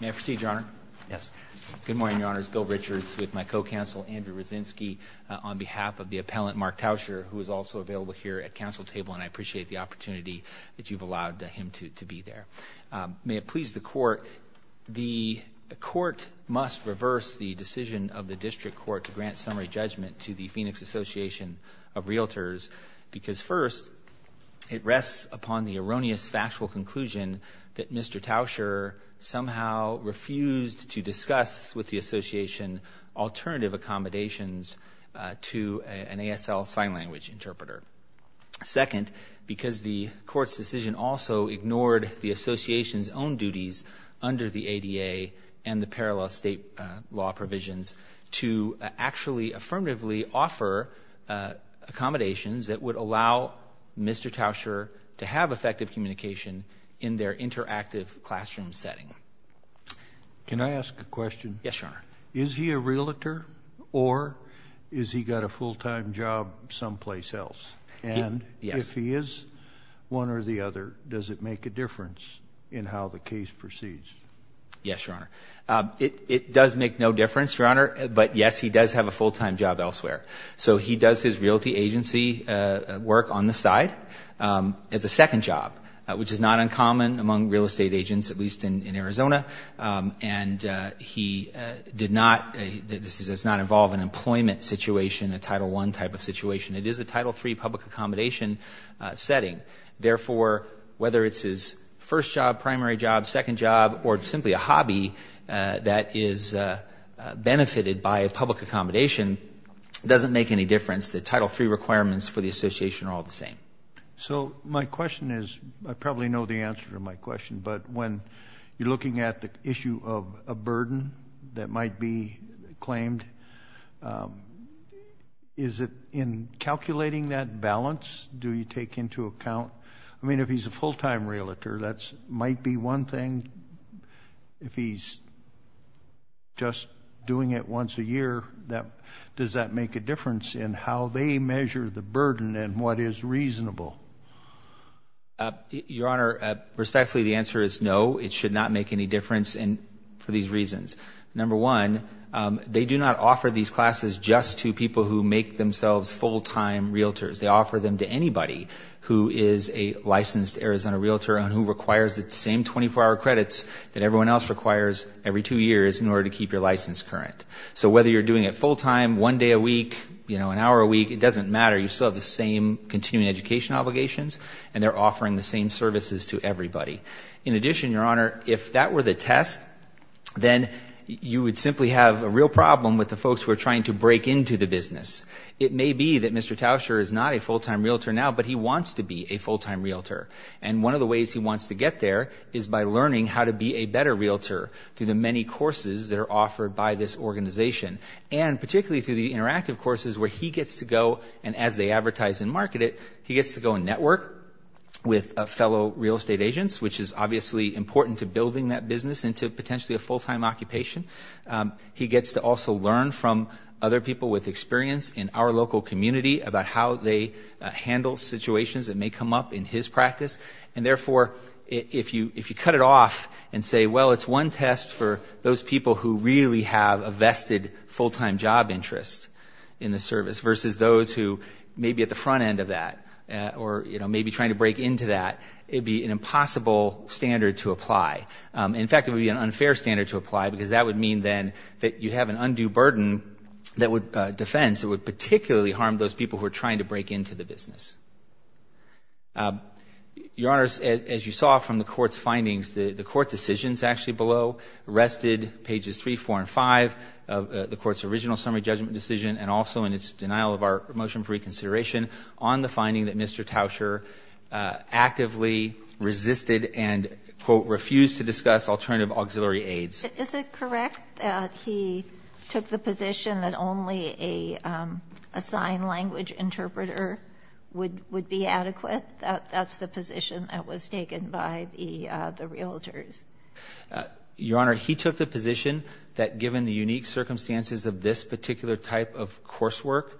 May I proceed, Your Honor? Yes. Good morning, Your Honors. Bill Richards with my co-counsel Andrew Roszynski on behalf of the appellant Mark Tauscher, who is also available here at council table, and I appreciate the opportunity that you've allowed him to be there. May it please the Court, the Court must reverse the decision of the District Court to grant summary judgment to the Phoenix Association of Realtors because, first, it rests upon the erroneous factual conclusion that Mr. Tauscher somehow refused to discuss with the association alternative accommodations to an ASL sign language interpreter. Second, because the Court's decision also ignored the association's own duties under the ADA and the parallel state law provisions to actually affirmatively offer accommodations that would allow Mr. Tauscher to have effective communication in their interactive classroom setting. Can I ask a question? Yes, Your Honor. Is he a realtor or has he got a full-time job someplace else? Yes. And if he is one or the other, does it make a difference in how the case proceeds? Yes, Your Honor. It does make no difference, Your Honor, but yes, he does have a full-time job elsewhere. So he does his realty agency work on the side as a second job, which is not uncommon among real estate agents, at least in Arizona. And he did not ‑‑ this does not involve an employment situation, a Title I type of situation. It is a Title III public accommodation setting. Therefore, whether it's his first job, primary job, second job, or simply a hobby that is benefited by a public accommodation, it doesn't make any difference. The Title III requirements for the association are all the same. So my question is, I probably know the answer to my question, but when you're looking at the issue of a burden that might be claimed, is it in calculating that balance do you take into account? I mean, if he's a full-time realtor, that might be one thing. If he's just doing it once a year, does that make a difference in how they measure the burden and what is reasonable? Your Honor, respectfully, the answer is no. It should not make any difference for these reasons. Number one, they do not offer these classes just to people who make themselves full‑time realtors. They offer them to anybody who is a licensed Arizona realtor and who requires the same 24‑hour credits that everyone else requires every two years in order to keep your license current. So whether you're doing it full‑time, one day a week, you know, an hour a week, it doesn't matter. You still have the same continuing education obligations, and they're offering the same services to everybody. In addition, Your Honor, if that were the test, then you would simply have a real problem with the It may be that Mr. Tauscher is not a full‑time realtor now, but he wants to be a full‑time realtor, and one of the ways he wants to get there is by learning how to be a better realtor through the many courses that are offered by this organization, and particularly through the interactive courses where he gets to go, and as they advertise and market it, he gets to go and network with fellow real estate agents, which is obviously important to building that business into potentially a full‑time occupation. He gets to also learn from other people with experience in our local community about how they handle situations that may come up in his practice, and therefore, if you cut it off and say, well, it's one test for those people who really have a vested full‑time job interest in the service versus those who may be at the front end of that or, you know, may be trying to break into that, it would be an impossible standard to apply. In fact, it would be an unfair standard to apply, because that would mean, then, that you have an undue burden that would ‑‑ defense that would particularly harm those people who are trying to break into the business. Your Honors, as you saw from the Court's findings, the Court decisions actually below rested pages 3, 4, and 5 of the Court's original summary judgment decision and also in its denial of our motion for reconsideration on the finding that Mr. Tauscher actively resisted and, quote, refused to discuss alternative auxiliary aids. Is it correct that he took the position that only a sign language interpreter would be adequate? That's the position that was taken by the realtors? Your Honor, he took the position that given the unique circumstances of this particular type of coursework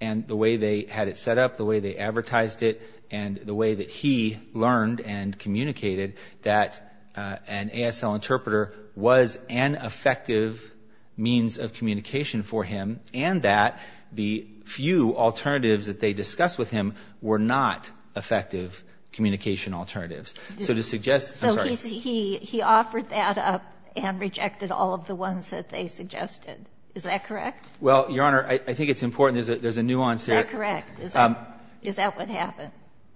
and the way they had it set up, the way they advertised it, and the way that he learned and communicated, that an ASL interpreter was an effective means of communication for him and that the few alternatives that they discussed with him were not effective communication alternatives. So to suggest ‑‑ So he offered that up and rejected all of the ones that they suggested. Is that correct? Well, Your Honor, I think it's important. There's a nuance here. Is that correct? Is that what happened?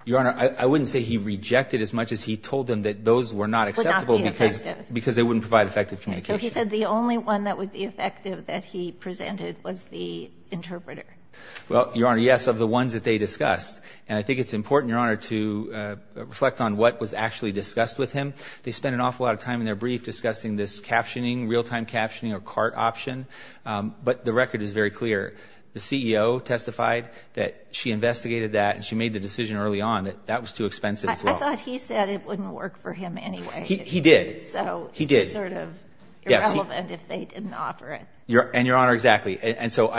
Your Honor, I wouldn't say he rejected as much as he told them that those were not acceptable because they wouldn't provide effective communication. So he said the only one that would be effective that he presented was the interpreter. Well, Your Honor, yes, of the ones that they discussed. And I think it's important, Your Honor, to reflect on what was actually discussed with him. They spent an awful lot of time in their brief discussing this captioning, realtime captioning, or CART option. But the record is very clear. The CEO testified that she investigated that and she made the decision early on that that was too expensive. I thought he said it wouldn't work for him anyway. He did. So it's sort of irrelevant if they didn't offer it. And Your Honor, exactly. And so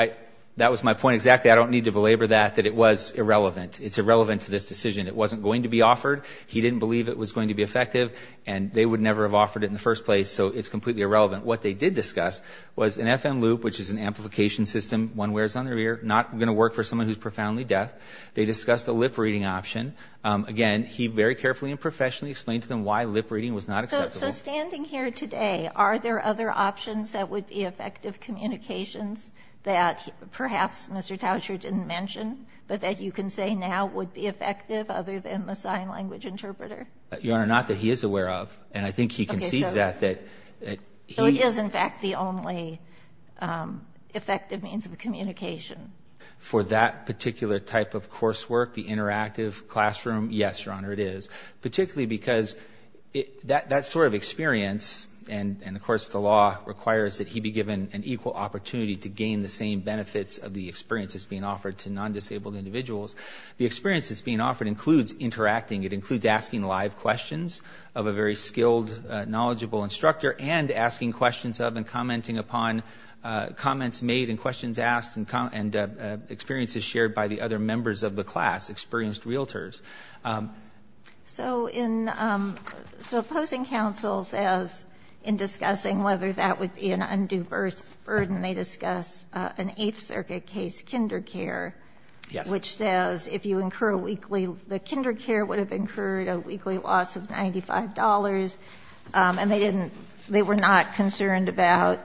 that was my point exactly. I don't need to belabor that, that it was irrelevant. It's irrelevant to this decision. It wasn't going to be offered. He didn't believe it was going to be effective. And they would never have offered it in the first place. So it's completely irrelevant. What they did discuss was an FM loop, which is an amplification system, one where it's on the ear, not going to work for someone who's profoundly deaf. They discussed a lip reading option. Again, he very carefully and professionally explained to them why lip reading was not acceptable. So standing here today, are there other options that would be effective communications that perhaps Mr. Towsher didn't mention, but that you can say now would be effective other than the sign language interpreter? Your Honor, not that he is aware of. And I think he concedes that, that he... So it is, in fact, the only effective means of communication. For that particular type of coursework, the interactive classroom, yes, Your Honor, it is. Particularly because that sort of experience, and of course the law requires that he be given an equal opportunity to gain the same benefits of the experience that's being offered to non-disabled individuals. The experience that's being offered includes interacting. It includes asking live questions of a very skilled, knowledgeable instructor, and asking questions of and commenting upon comments made and questions asked, and experiences shared by the other members of the class, experienced realtors. So in... So opposing counsel says, in discussing whether that would be an undue burden, they discuss an Eighth Circuit case, kinder care, which says if you incur a weekly... The kinder care is concerned about...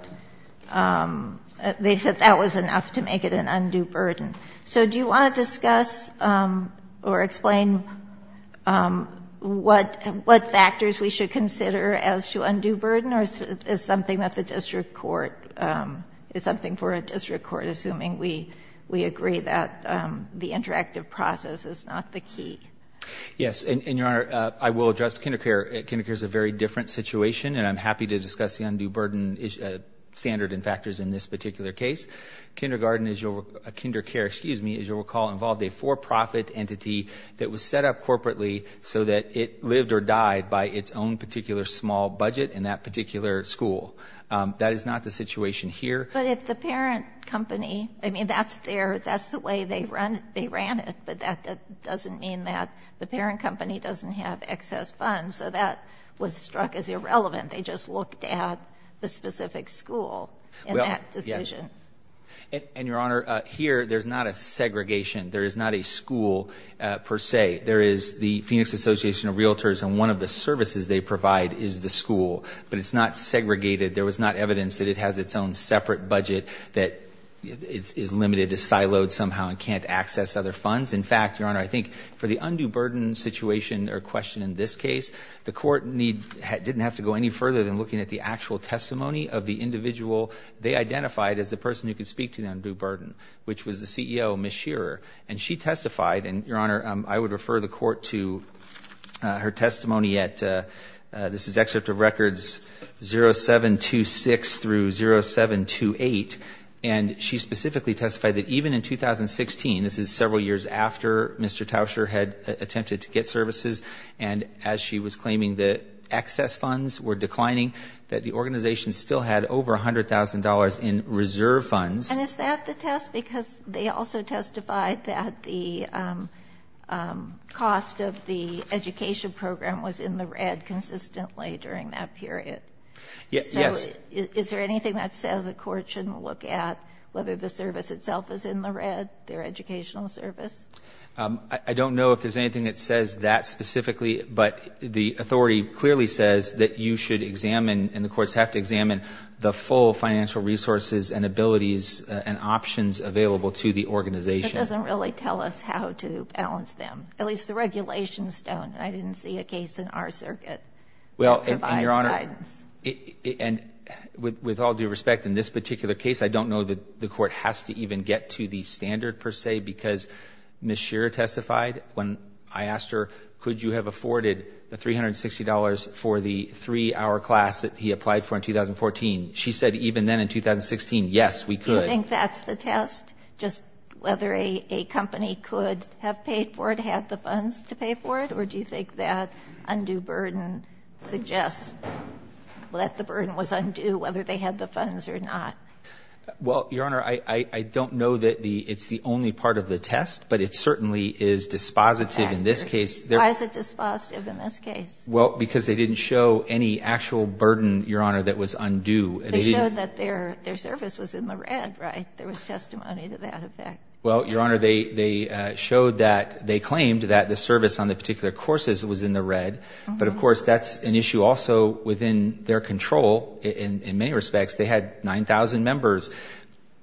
They said that was enough to make it an undue burden. So do you want to discuss or explain what factors we should consider as to undue burden or is something that the district court... Is something for a district court, assuming we agree that the interactive process is not the key? Yes. And Your Honor, I will address kinder care. Kinder care is a very different situation and I'm happy to discuss the undue burden standard and factors in this particular case. Kindergarten is your... Kinder care, excuse me, as you'll recall, involved a for-profit entity that was set up corporately so that it lived or died by its own particular small budget in that particular school. That is not the situation here. But if the parent company... I mean, that's their... That's the way they ran it, but that doesn't mean that the parent company doesn't have excess funds. So that was struck as irrelevant and they just looked at the specific school in that decision. And Your Honor, here there's not a segregation. There is not a school per se. There is the Phoenix Association of Realtors and one of the services they provide is the school, but it's not segregated. There was not evidence that it has its own separate budget that is limited to siloed somehow and can't access other funds. In fact, Your Honor, I think for the undue burden situation or question in this case, the court need... Didn't have to go any further than looking at the actual testimony of the individual they identified as the person who could speak to the undue burden, which was the CEO, Ms. Shearer. And she testified, and Your Honor, I would refer the court to her testimony at... This is excerpt of records 0726 through 0728, and she specifically testified that even in 2016, this is several years after Mr. Tauscher had attempted to get services, and as she was were declining, that the organization still had over $100,000 in reserve funds. And is that the test? Because they also testified that the cost of the education program was in the red consistently during that period. Yes. So is there anything that says a court shouldn't look at whether the service itself is in the red, their educational service? I don't know if there's anything that says that specifically, but the authority clearly says that you should examine, and the courts have to examine, the full financial resources and abilities and options available to the organization. It doesn't really tell us how to balance them, at least the regulations don't. I didn't see a case in our circuit that provides guidance. And with all due respect, in this particular case, I don't know that the court has to even get to the standard per se, because Ms. Shearer testified when I asked her, could you have afforded the $360 for the three-hour class that he applied for in 2014? She said even then in 2016, yes, we could. Do you think that's the test, just whether a company could have paid for it, had the funds to pay for it, or do you think that undue burden suggests that the burden was undue whether they had the funds or not? Well, Your Honor, I don't know that it's the only part of the test, but it certainly is dispositive in this case. Why is it dispositive in this case? Well, because they didn't show any actual burden, Your Honor, that was undue. They showed that their service was in the red, right? There was testimony to that, in fact. Well, Your Honor, they showed that, they claimed that the service on the particular courses was in the red, but of course, that's an issue also within their control. In many respects, they had 9,000 members.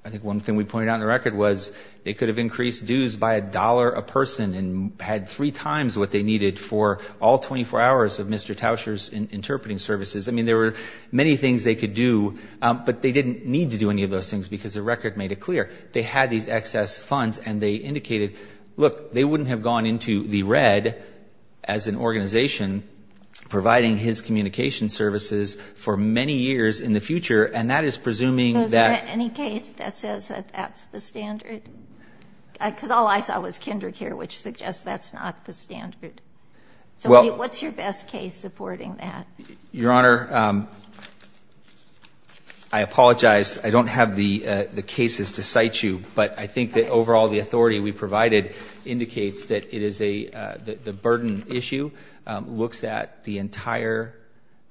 I think one thing we pointed out in the record was they could have increased dues by a dollar a person and had three times what they needed for all 24 hours of Mr. Tauscher's interpreting services. I mean, there were many things they could do, but they didn't need to do any of those things because the record made it clear. They had these excess funds, and they indicated, look, they wouldn't have gone into the red as an organization providing his communication services for many years in the future, and that is presuming that Is there any case that says that that's the standard? Because all I saw was kindergarten care, which suggests that's not the standard. So what's your best case supporting that? Your Honor, I apologize. I don't have the cases to cite you, but I think that overall the authority we provided indicates that it is a burden issue, looks at the entire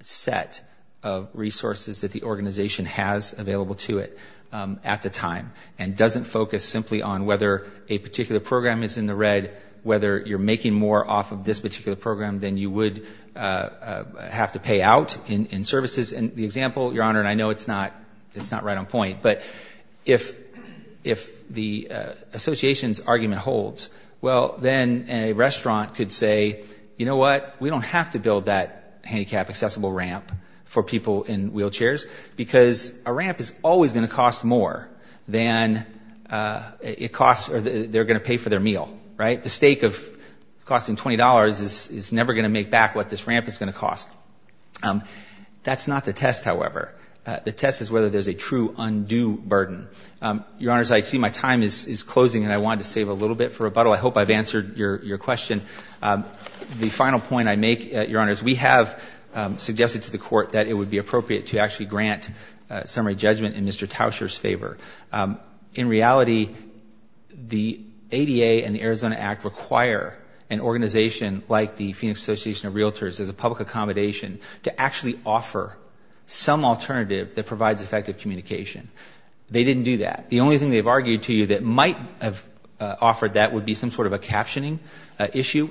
set of resources that the organization has available to it at the time, and doesn't focus simply on whether a particular program is in the red, whether you're making more off of this particular program than you would have to pay out in services. And the example, Your Honor, and I know it's not right on point, but if the association's argument holds, well, then a restaurant could say, you know what, we don't have to build that handicapped accessible ramp for people in wheelchairs, because a ramp is always going to cost more than it costs or they're going to pay for their meal, right? The stake of costing $20 is never going to make back what this ramp is going to cost. That's not the test, however. The test is whether there's a true undue burden. Your Honors, I see my time is closing, and I wanted to save a little bit for rebuttal. I hope I've answered your question. The final point I make, Your Honors, we have suggested to the Court that it would be appropriate to actually grant summary judgment in Mr. Tauscher's favor. In reality, the ADA and the Arizona Act require an organization like the Phoenix Association of Realtors, as a public accommodation, to actually offer some alternative that provides effective communication. They didn't do that. The only thing they've sort of a captioning issue.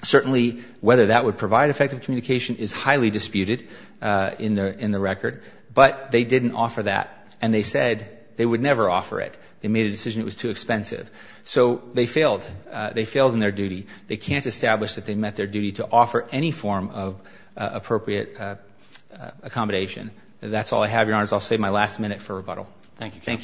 Certainly, whether that would provide effective communication is highly disputed in the record, but they didn't offer that, and they said they would never offer it. They made a decision it was too expensive. So they failed. They failed in their duty. They can't establish that they met their duty to offer any form of appropriate accommodation. That's all I have, Your Honors. I'll save my last minute for rebuttal. Thank you. Thank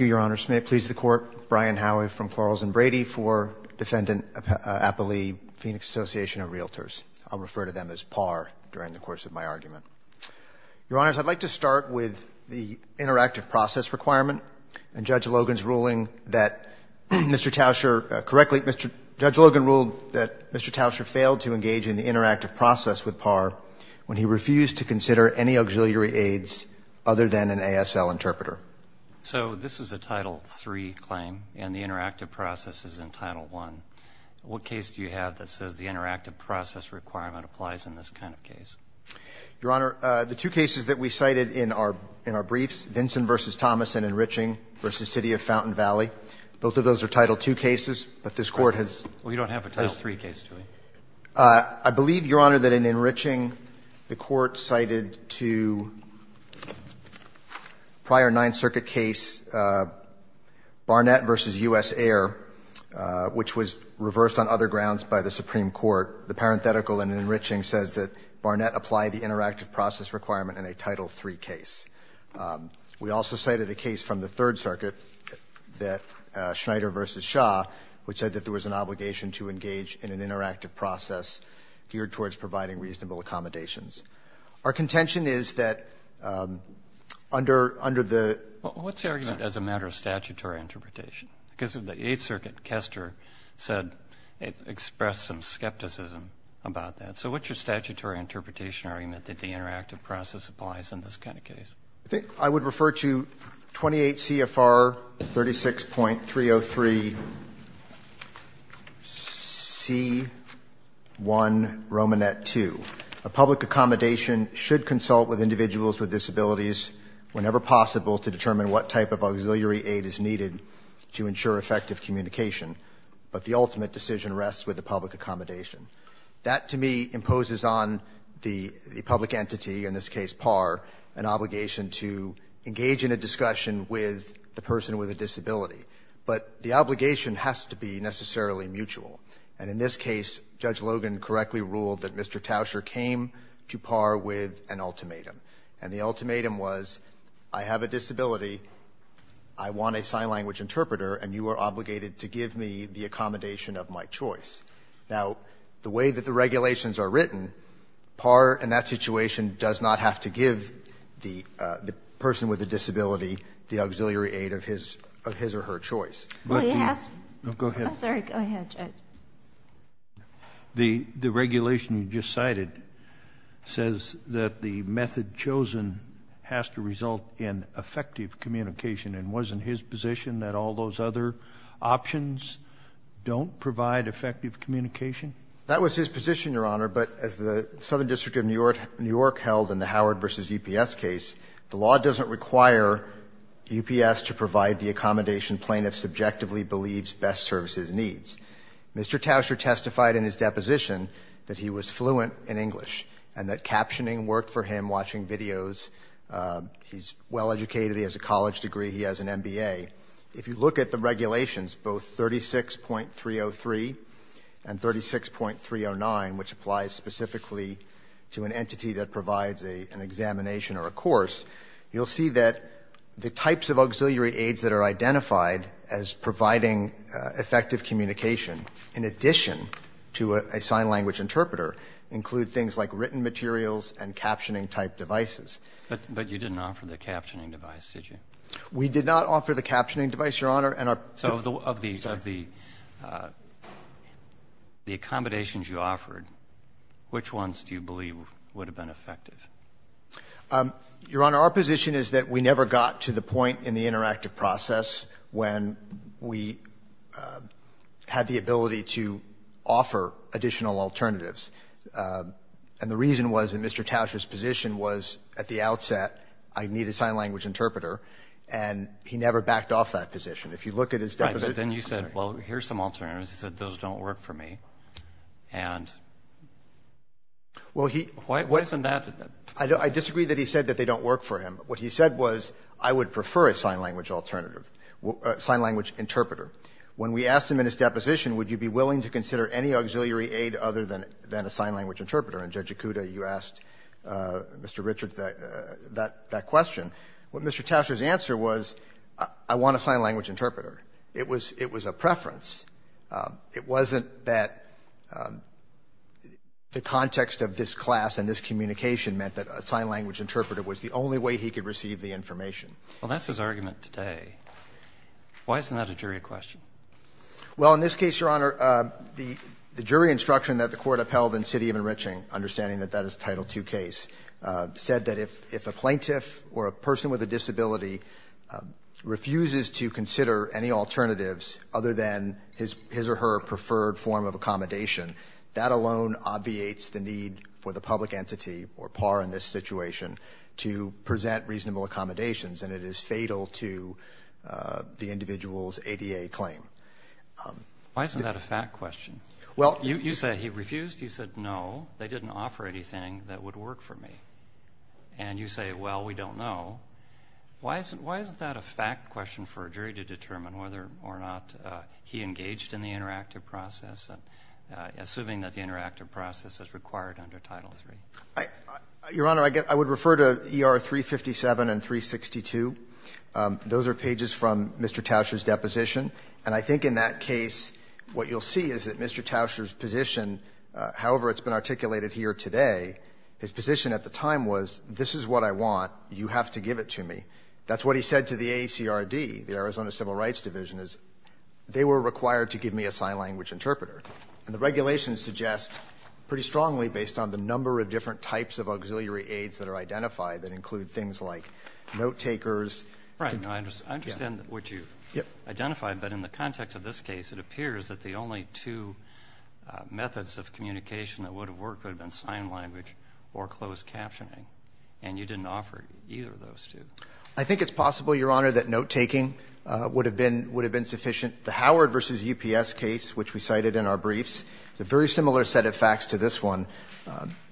you, Your Honors. May it please the Court, Brian Howey from Florals and Brady for Defendant Appalee, Phoenix Association of Realtors. I'll refer to them as par during the course of my argument. Your Honors, I'd like to start with the interactive process requirement and Judge Logan's ruling that Mr. Tauscher, correctly, Judge Logan ruled that Mr. Tauscher failed to engage in the interactive process with par when he refused to consider any auxiliary aids other than an ASL interpreter. So this is a Title III claim, and the interactive process is in Title I. What case do you have that says the interactive process requirement applies in this kind of case? Your Honor, the two cases that we cited in our briefs, Vinson v. Thomas and Enriching v. City of Fountain Valley, both of those are Title II cases, but this Court has placed them. Well, you don't have a Title III case, do you? I believe, Your Honor, that in Enriching, the Court cited to prior Ninth Circuit case, Barnett v. U.S. Air, which was reversed on other grounds by the Supreme Court. The parenthetical in Enriching says that Barnett applied the interactive process requirement in a Title III case. We also cited a case from the Third Circuit that Schneider v. Shaw, which said that there was an obligation to engage in an interactive process geared towards providing reasonable accommodations. Our contention is that under the — Well, what's the argument as a matter of statutory interpretation? Because of the Eighth Circuit, Kester said, expressed some skepticism about that. So what's your statutory interpretation or argument that the interactive process applies in this kind of case? I would refer to 28 C.F.R. 36.303 C.1. Romanet 2. A public accommodation should consult with individuals with disabilities whenever possible to determine what type of auxiliary aid is needed to ensure effective communication. But the ultimate decision rests with the public accommodation. That, to me, imposes on the public entity, in this case PAR, an obligation to engage in a discussion with the person with a disability. But the obligation has to be necessarily mutual. And in this case, Judge Logan correctly ruled that Mr. Tauscher came to PAR with an ultimatum. And the ultimatum was, I have a disability, I want a sign language interpreter, and you are obligated to give me the accommodation of my choice. Now, the way that the regulations are written, PAR, in that situation, does not have to give the person with a disability the auxiliary aid of his or her choice. Well, you have to go ahead, I'm sorry, go ahead, Judge. The regulation you just cited says that the method chosen has to result in effective communication. And wasn't his position that all those other options don't provide effective communication? That was his position, Your Honor. But as the Southern District of New York held in the Howard v. UPS case, the law doesn't require UPS to provide the accommodation plaintiff subjectively believes best serves his needs. Mr. Tauscher testified in his deposition that he was fluent in English and that captioning worked for him watching videos. He's well-educated, has a college degree, he has an MBA. If you look at the regulations, both 36.303 and 36.309, which applies specifically to an entity that provides an examination or a course, you'll see that the types of auxiliary aids that are identified as providing effective communication, in addition to a sign language interpreter, include things like written materials and captioning-type devices. But you didn't offer the captioning device, did you? We did not offer the captioning device, Your Honor. So of the accommodations you offered, which ones do you believe would have been effective? Your Honor, our position is that we never got to the point in the interactive process when we had the ability to offer additional alternatives. And the reason was that Mr. Tauscher said at the outset, I need a sign language interpreter, and he never backed off that position. If you look at his deposition, I'm sorry. Right. But then you said, well, here's some alternatives. He said, those don't work for me. And why isn't that? I disagree that he said that they don't work for him. What he said was, I would prefer a sign language alternative, a sign language interpreter. When we asked him in his deposition, would you be willing to consider any auxiliary aid other than a sign language interpreter? And, Judge Ikuta, you asked Mr. Richard that question. What Mr. Tauscher's answer was, I want a sign language interpreter. It was a preference. It wasn't that the context of this class and this communication meant that a sign language interpreter was the only way he could receive the information. Well, that's his argument today. Why isn't that a jury question? Well, in this case, Your Honor, the jury instruction that the Court upheld in City of Enriching, understanding that that is a Title II case, said that if a plaintiff or a person with a disability refuses to consider any alternatives other than his or her preferred form of accommodation, that alone obviates the need for the public entity or par in this situation to present reasonable accommodations, and it is fatal to the individual's ADA claim. Why isn't that a fact question? You say he refused. He said, no, they didn't offer anything that would work for me. And you say, well, we don't know. Why isn't that a fact question for a jury to determine whether or not he engaged in the interactive process, assuming that the interactive process is required under Title III? Your Honor, I would refer to ER 357 and 362. Those are pages from Mr. Tauscher's I think in that case, what you'll see is that Mr. Tauscher's position, however it's been articulated here today, his position at the time was, this is what I want, you have to give it to me. That's what he said to the AACRD, the Arizona Civil Rights Division, is they were required to give me a sign language interpreter. And the regulations suggest pretty strongly, based on the number of different types of auxiliary aids that are identified, that include things like note-takers. Right. I understand what you've identified, but in the context of this case, it appears that the only two methods of communication that would have worked would have been sign language or closed captioning. And you didn't offer either of those two. I think it's possible, Your Honor, that note-taking would have been sufficient. The Howard v. UPS case, which we cited in our briefs, is a very similar set of facts to this one.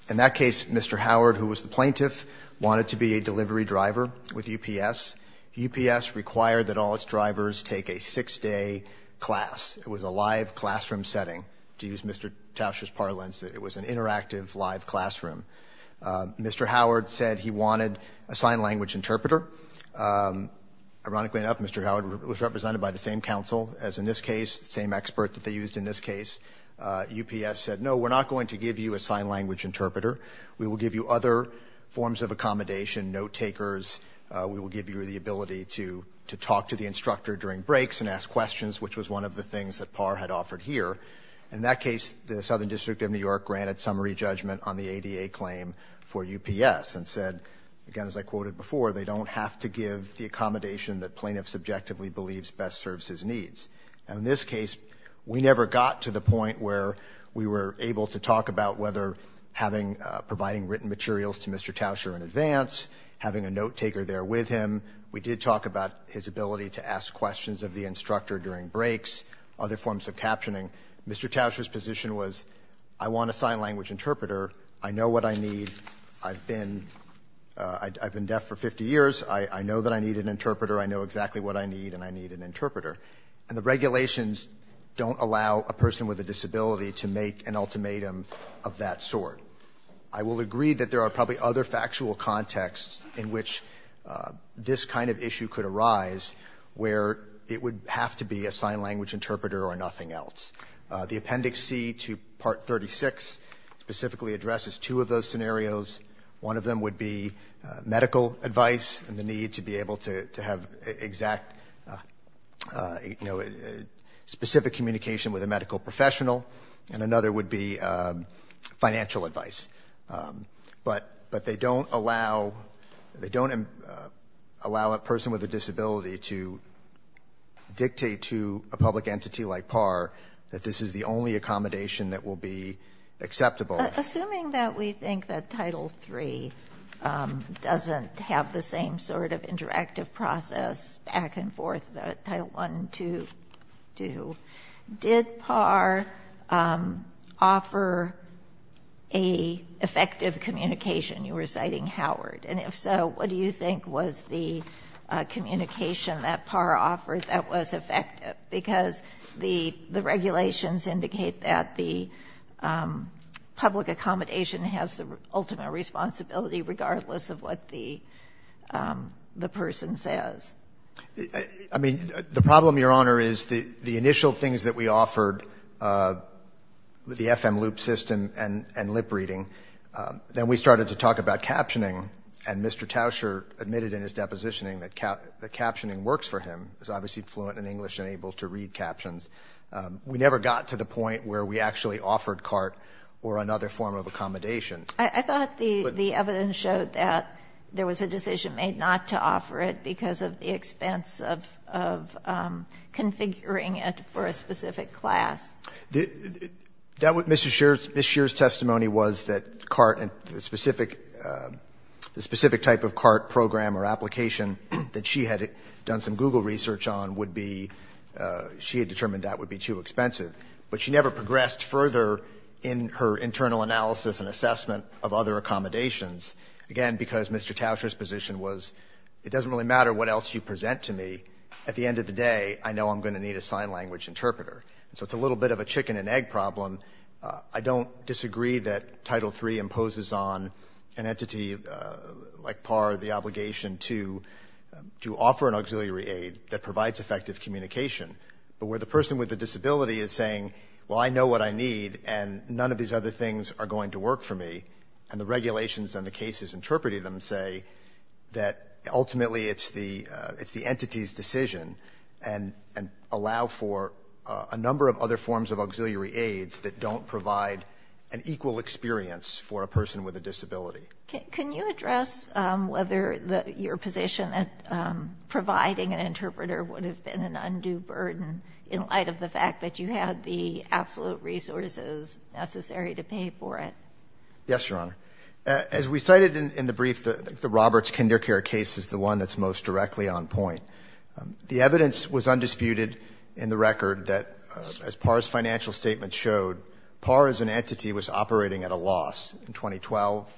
In that case, Mr. Howard, who was the plaintiff, wanted to be a delivery driver with UPS. UPS required that all its drivers take a six-day class. It was a live classroom setting, to use Mr. Tauscher's parlance, that it was an interactive live classroom. Mr. Howard said he wanted a sign language interpreter. Ironically enough, Mr. Howard was represented by the same counsel as in this case, the same expert that they used in this case. UPS said, no, we're not going to give you a sign language interpreter. We will give you other forms of accommodation, note-takers. We will give you the ability to talk to the instructor during breaks and ask questions, which was one of the things that Parr had offered here. In that case, the Southern District of New York granted summary judgment on the ADA claim for UPS and said, again, as I quoted before, they don't have to give the accommodation that plaintiff subjectively believes best serves his needs. In this case, we never got to the point where we were able to talk about whether providing written materials to Mr. Tauscher in advance, having a note-taker there with him. We did talk about his ability to ask questions of the instructor during breaks, other forms of captioning. Mr. Tauscher's position was, I want a sign language interpreter. I know what I need. I've been deaf for 50 years. I know that I need an interpreter. I know exactly what I need, and I need an interpreter. And the regulations don't allow a person with a disability to make an ultimatum of that sort. I will agree that there are probably other factual contexts in which this kind of issue could arise where it would have to be a sign language interpreter or nothing else. The Appendix C to Part 36 specifically addresses two of those scenarios. One of them would be medical advice and the need to be able to have exact, you know, specific communication with a medical professional, and another would be financial advice. But they don't allow a person with a disability to dictate to a public entity like PAR that this is the only accommodation that will be acceptable. Assuming that we think that Title III doesn't have the same sort of interactive process back and forth that Title I, II do, did PAR offer an effective communication? You were citing Howard. And if so, what do you think was the communication that PAR offered that was effective? Because the regulations indicate that the public I mean, the problem, Your Honor, is the initial things that we offered, the FM loop system and lip reading, then we started to talk about captioning. And Mr. Tauscher admitted in his depositioning that captioning works for him. He's obviously fluent in English and able to read captions. We never got to the point where we actually offered CART or another form of accommodation. I thought the evidence showed that there was a decision made not to offer it because of the expense of configuring it for a specific class. That was Ms. Scheer's testimony was that CART and the specific type of CART program or application that she had done some Google research on would be, she had determined that would be too expensive. But she never progressed further in her internal analysis and assessment of other accommodations. Again, because Mr. Tauscher's position was it doesn't really matter what else you present to me. At the end of the day, I know I'm going to need a sign language interpreter. So it's a little bit of a chicken and egg problem. I don't disagree that Title III imposes on an entity like PAR the obligation to offer an auxiliary aid that provides effective communication. But where the person with the disability is saying, well, I know what I need and none of these other things are going to work for me and the regulations and the cases interpreting them say that ultimately it's the entity's decision and allow for a number of other forms of auxiliary aids that don't provide an equal experience for a person with a disability. Can you address whether your position at providing an interpreter would have been an undue burden in light of the fact that you had the absolute resources necessary to pay for it? Yes, Your Honor. As we cited in the brief, the Roberts Kindergarten case is the one that's most directly on point. The evidence was undisputed in the record that as PAR's financial statement showed, PAR as an entity was operating at a loss in 2012,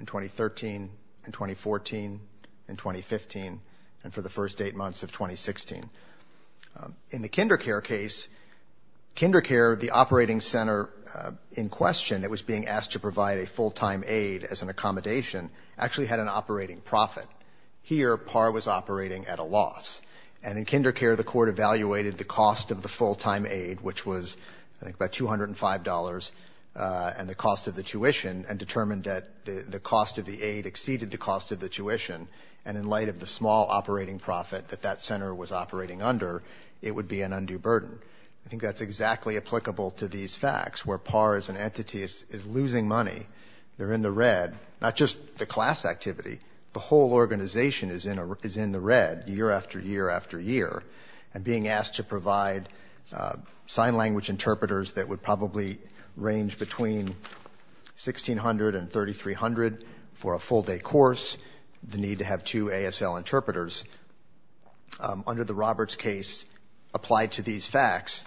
in 2013, in 2014, in 2015, and for the first eight months of 2016. In the KinderCare case, KinderCare, the operating center in question that was being asked to provide a full-time aid as an accommodation actually had an operating profit. Here, PAR was operating at a loss. And in KinderCare, the court evaluated the cost of the full-time aid, which was I think about $205, and the cost of the tuition and determined that the small operating profit that that center was operating under, it would be an undue burden. I think that's exactly applicable to these facts, where PAR as an entity is losing money. They're in the red. Not just the class activity, the whole organization is in the red year after year after year. And being asked to provide sign language interpreters that would probably range between $1,600 and $3,300 for a full-day course, the need to have two ASL interpreters, under the Roberts case, applied to these facts,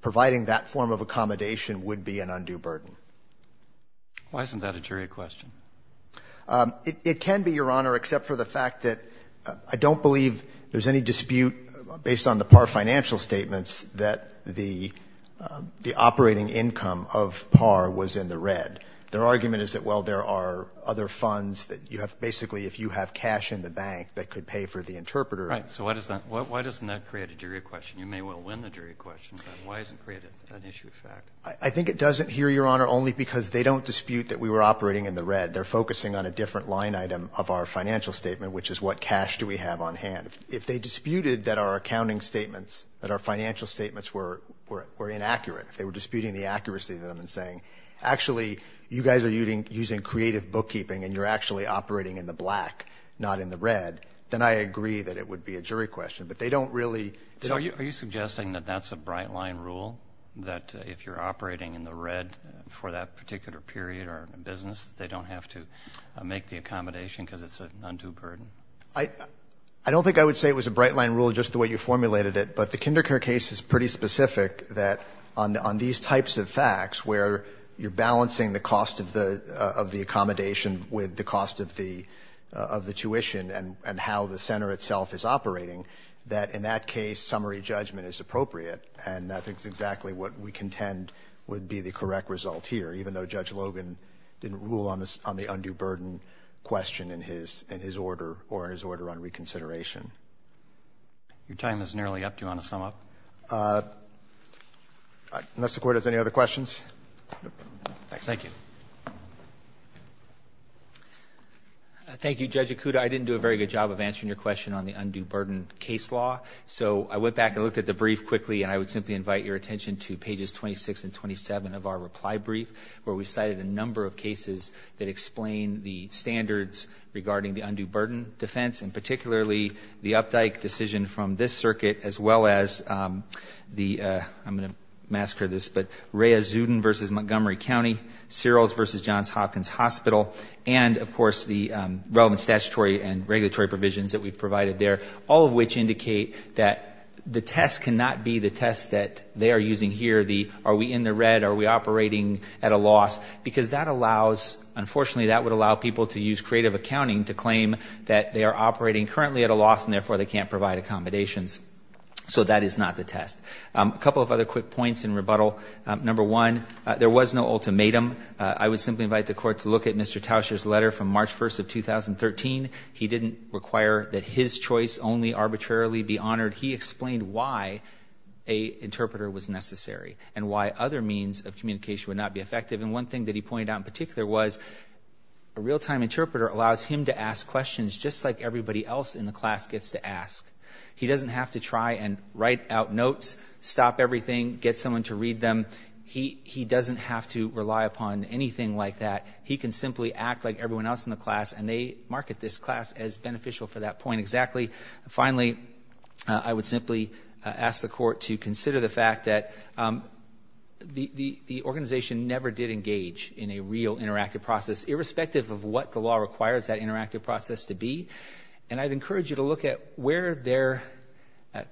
providing that form of accommodation would be an undue burden. Why isn't that a jury question? It can be, Your Honor, except for the fact that I don't believe there's any dispute based on the PAR financial statements that the operating income of PAR was in the red. Their argument is that, well, there are other funds that you have, basically, if you have cash in the bank that could pay for the interpreter. Right. So why doesn't that create a jury question? You may well win the jury question, but why doesn't it create an issue of fact? I think it doesn't here, Your Honor, only because they don't dispute that we were operating in the red. They're focusing on a different line item of our financial statement, which is what cash do we have on hand. If they disputed that our accounting statements, that our financial statements were inaccurate, if they were disputing the accuracy of them and saying, actually, you guys are using creative bookkeeping and you're actually operating in the black, not in the red, then I agree that it would be a jury question. But they don't really... So are you suggesting that that's a bright-line rule, that if you're operating in the red for that particular period or business, they don't have to make the accommodation because it's an undue burden? I don't think I would say it was a bright-line rule just the way you formulated it, but the Kindercare case is pretty specific that on these types of facts where you're balancing the cost of the accommodation with the cost of the tuition and how the center itself is operating, that in that case, summary judgment is appropriate. And I think it's exactly what we contend would be the correct result here, even though Judge Logan didn't rule on the undue burden question in his order or in his order on reconsideration. Your time is nearly up. Do you want to sum up? Unless the Court has any other questions. Thank you. Thank you, Judge Ikuda. I didn't do a very good job of answering your question on the undue burden case law, so I went back and looked at the brief quickly, and I would simply invite your attention to pages 26 and 27 of our reply brief, where we cited a number of cases that explain the standards regarding the undue burden defense, and particularly the Updike decision from this circuit, as well as the, I'm going to massacre this, but Rhea Zuden v. Montgomery County, Searles v. Johns Hopkins Hospital, and of course the relevant statutory and regulatory provisions that we provided there, all of which indicate that the test cannot be the test that they are using here, the are we in the red, are we operating at a loss, because that allows, unfortunately that would allow people to use creative accounting to claim that they are operating currently at a loss and therefore they can't provide accommodations. So that is not the test. A couple of other quick points in rebuttal. Number one, there was no ultimatum. I would simply invite the Court to look at Mr. Tauscher's letter from March 1st of 2013. He didn't require that his choice only arbitrarily be honored. He explained why a interpreter was necessary and why other means of communication would not be effective, and one thing that he pointed out in particular was a real-time interpreter allows him to ask questions just like everybody else in the class gets to ask. He doesn't have to try and write out notes, stop everything, get someone to read them. He doesn't have to rely upon anything like that. He can simply act like everyone else in the class, and they market this class as beneficial for that point exactly. Finally, I would simply ask the Court to consider the fact that the organization never did engage in a real interactive process, irrespective of what the law requires that interactive process to be, and I'd encourage you to look at where their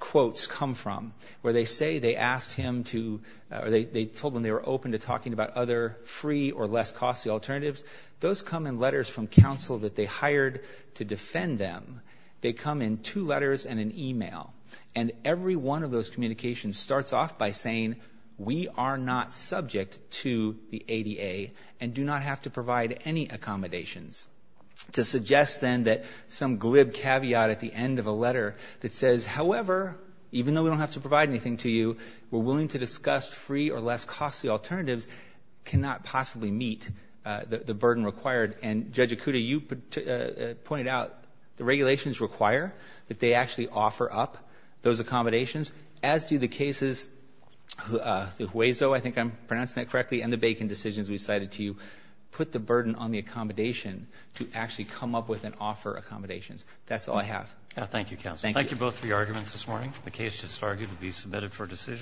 quotes come from, where they say they asked him to, or they told him they were open to talking about other free or less costly alternatives. Those come in letters from counsel that they hired to they come in two letters and an email, and every one of those communications starts off by saying we are not subject to the ADA and do not have to provide any accommodations. To suggest, then, that some glib caveat at the end of a letter that says, however, even though we don't have to provide anything to you, we're willing to discuss free or less costly alternatives cannot possibly meet the burden required, and Judge Ikuda, you pointed out the regulations require that they actually offer up those accommodations, as do the cases, the Hueso, I think I'm pronouncing that correctly, and the Bacon decisions we cited to you, put the burden on the accommodation to actually come up with and offer accommodations. That's all I have. Thank you, counsel. Thank you both for your arguments this morning. The case just argued to be submitted for decision.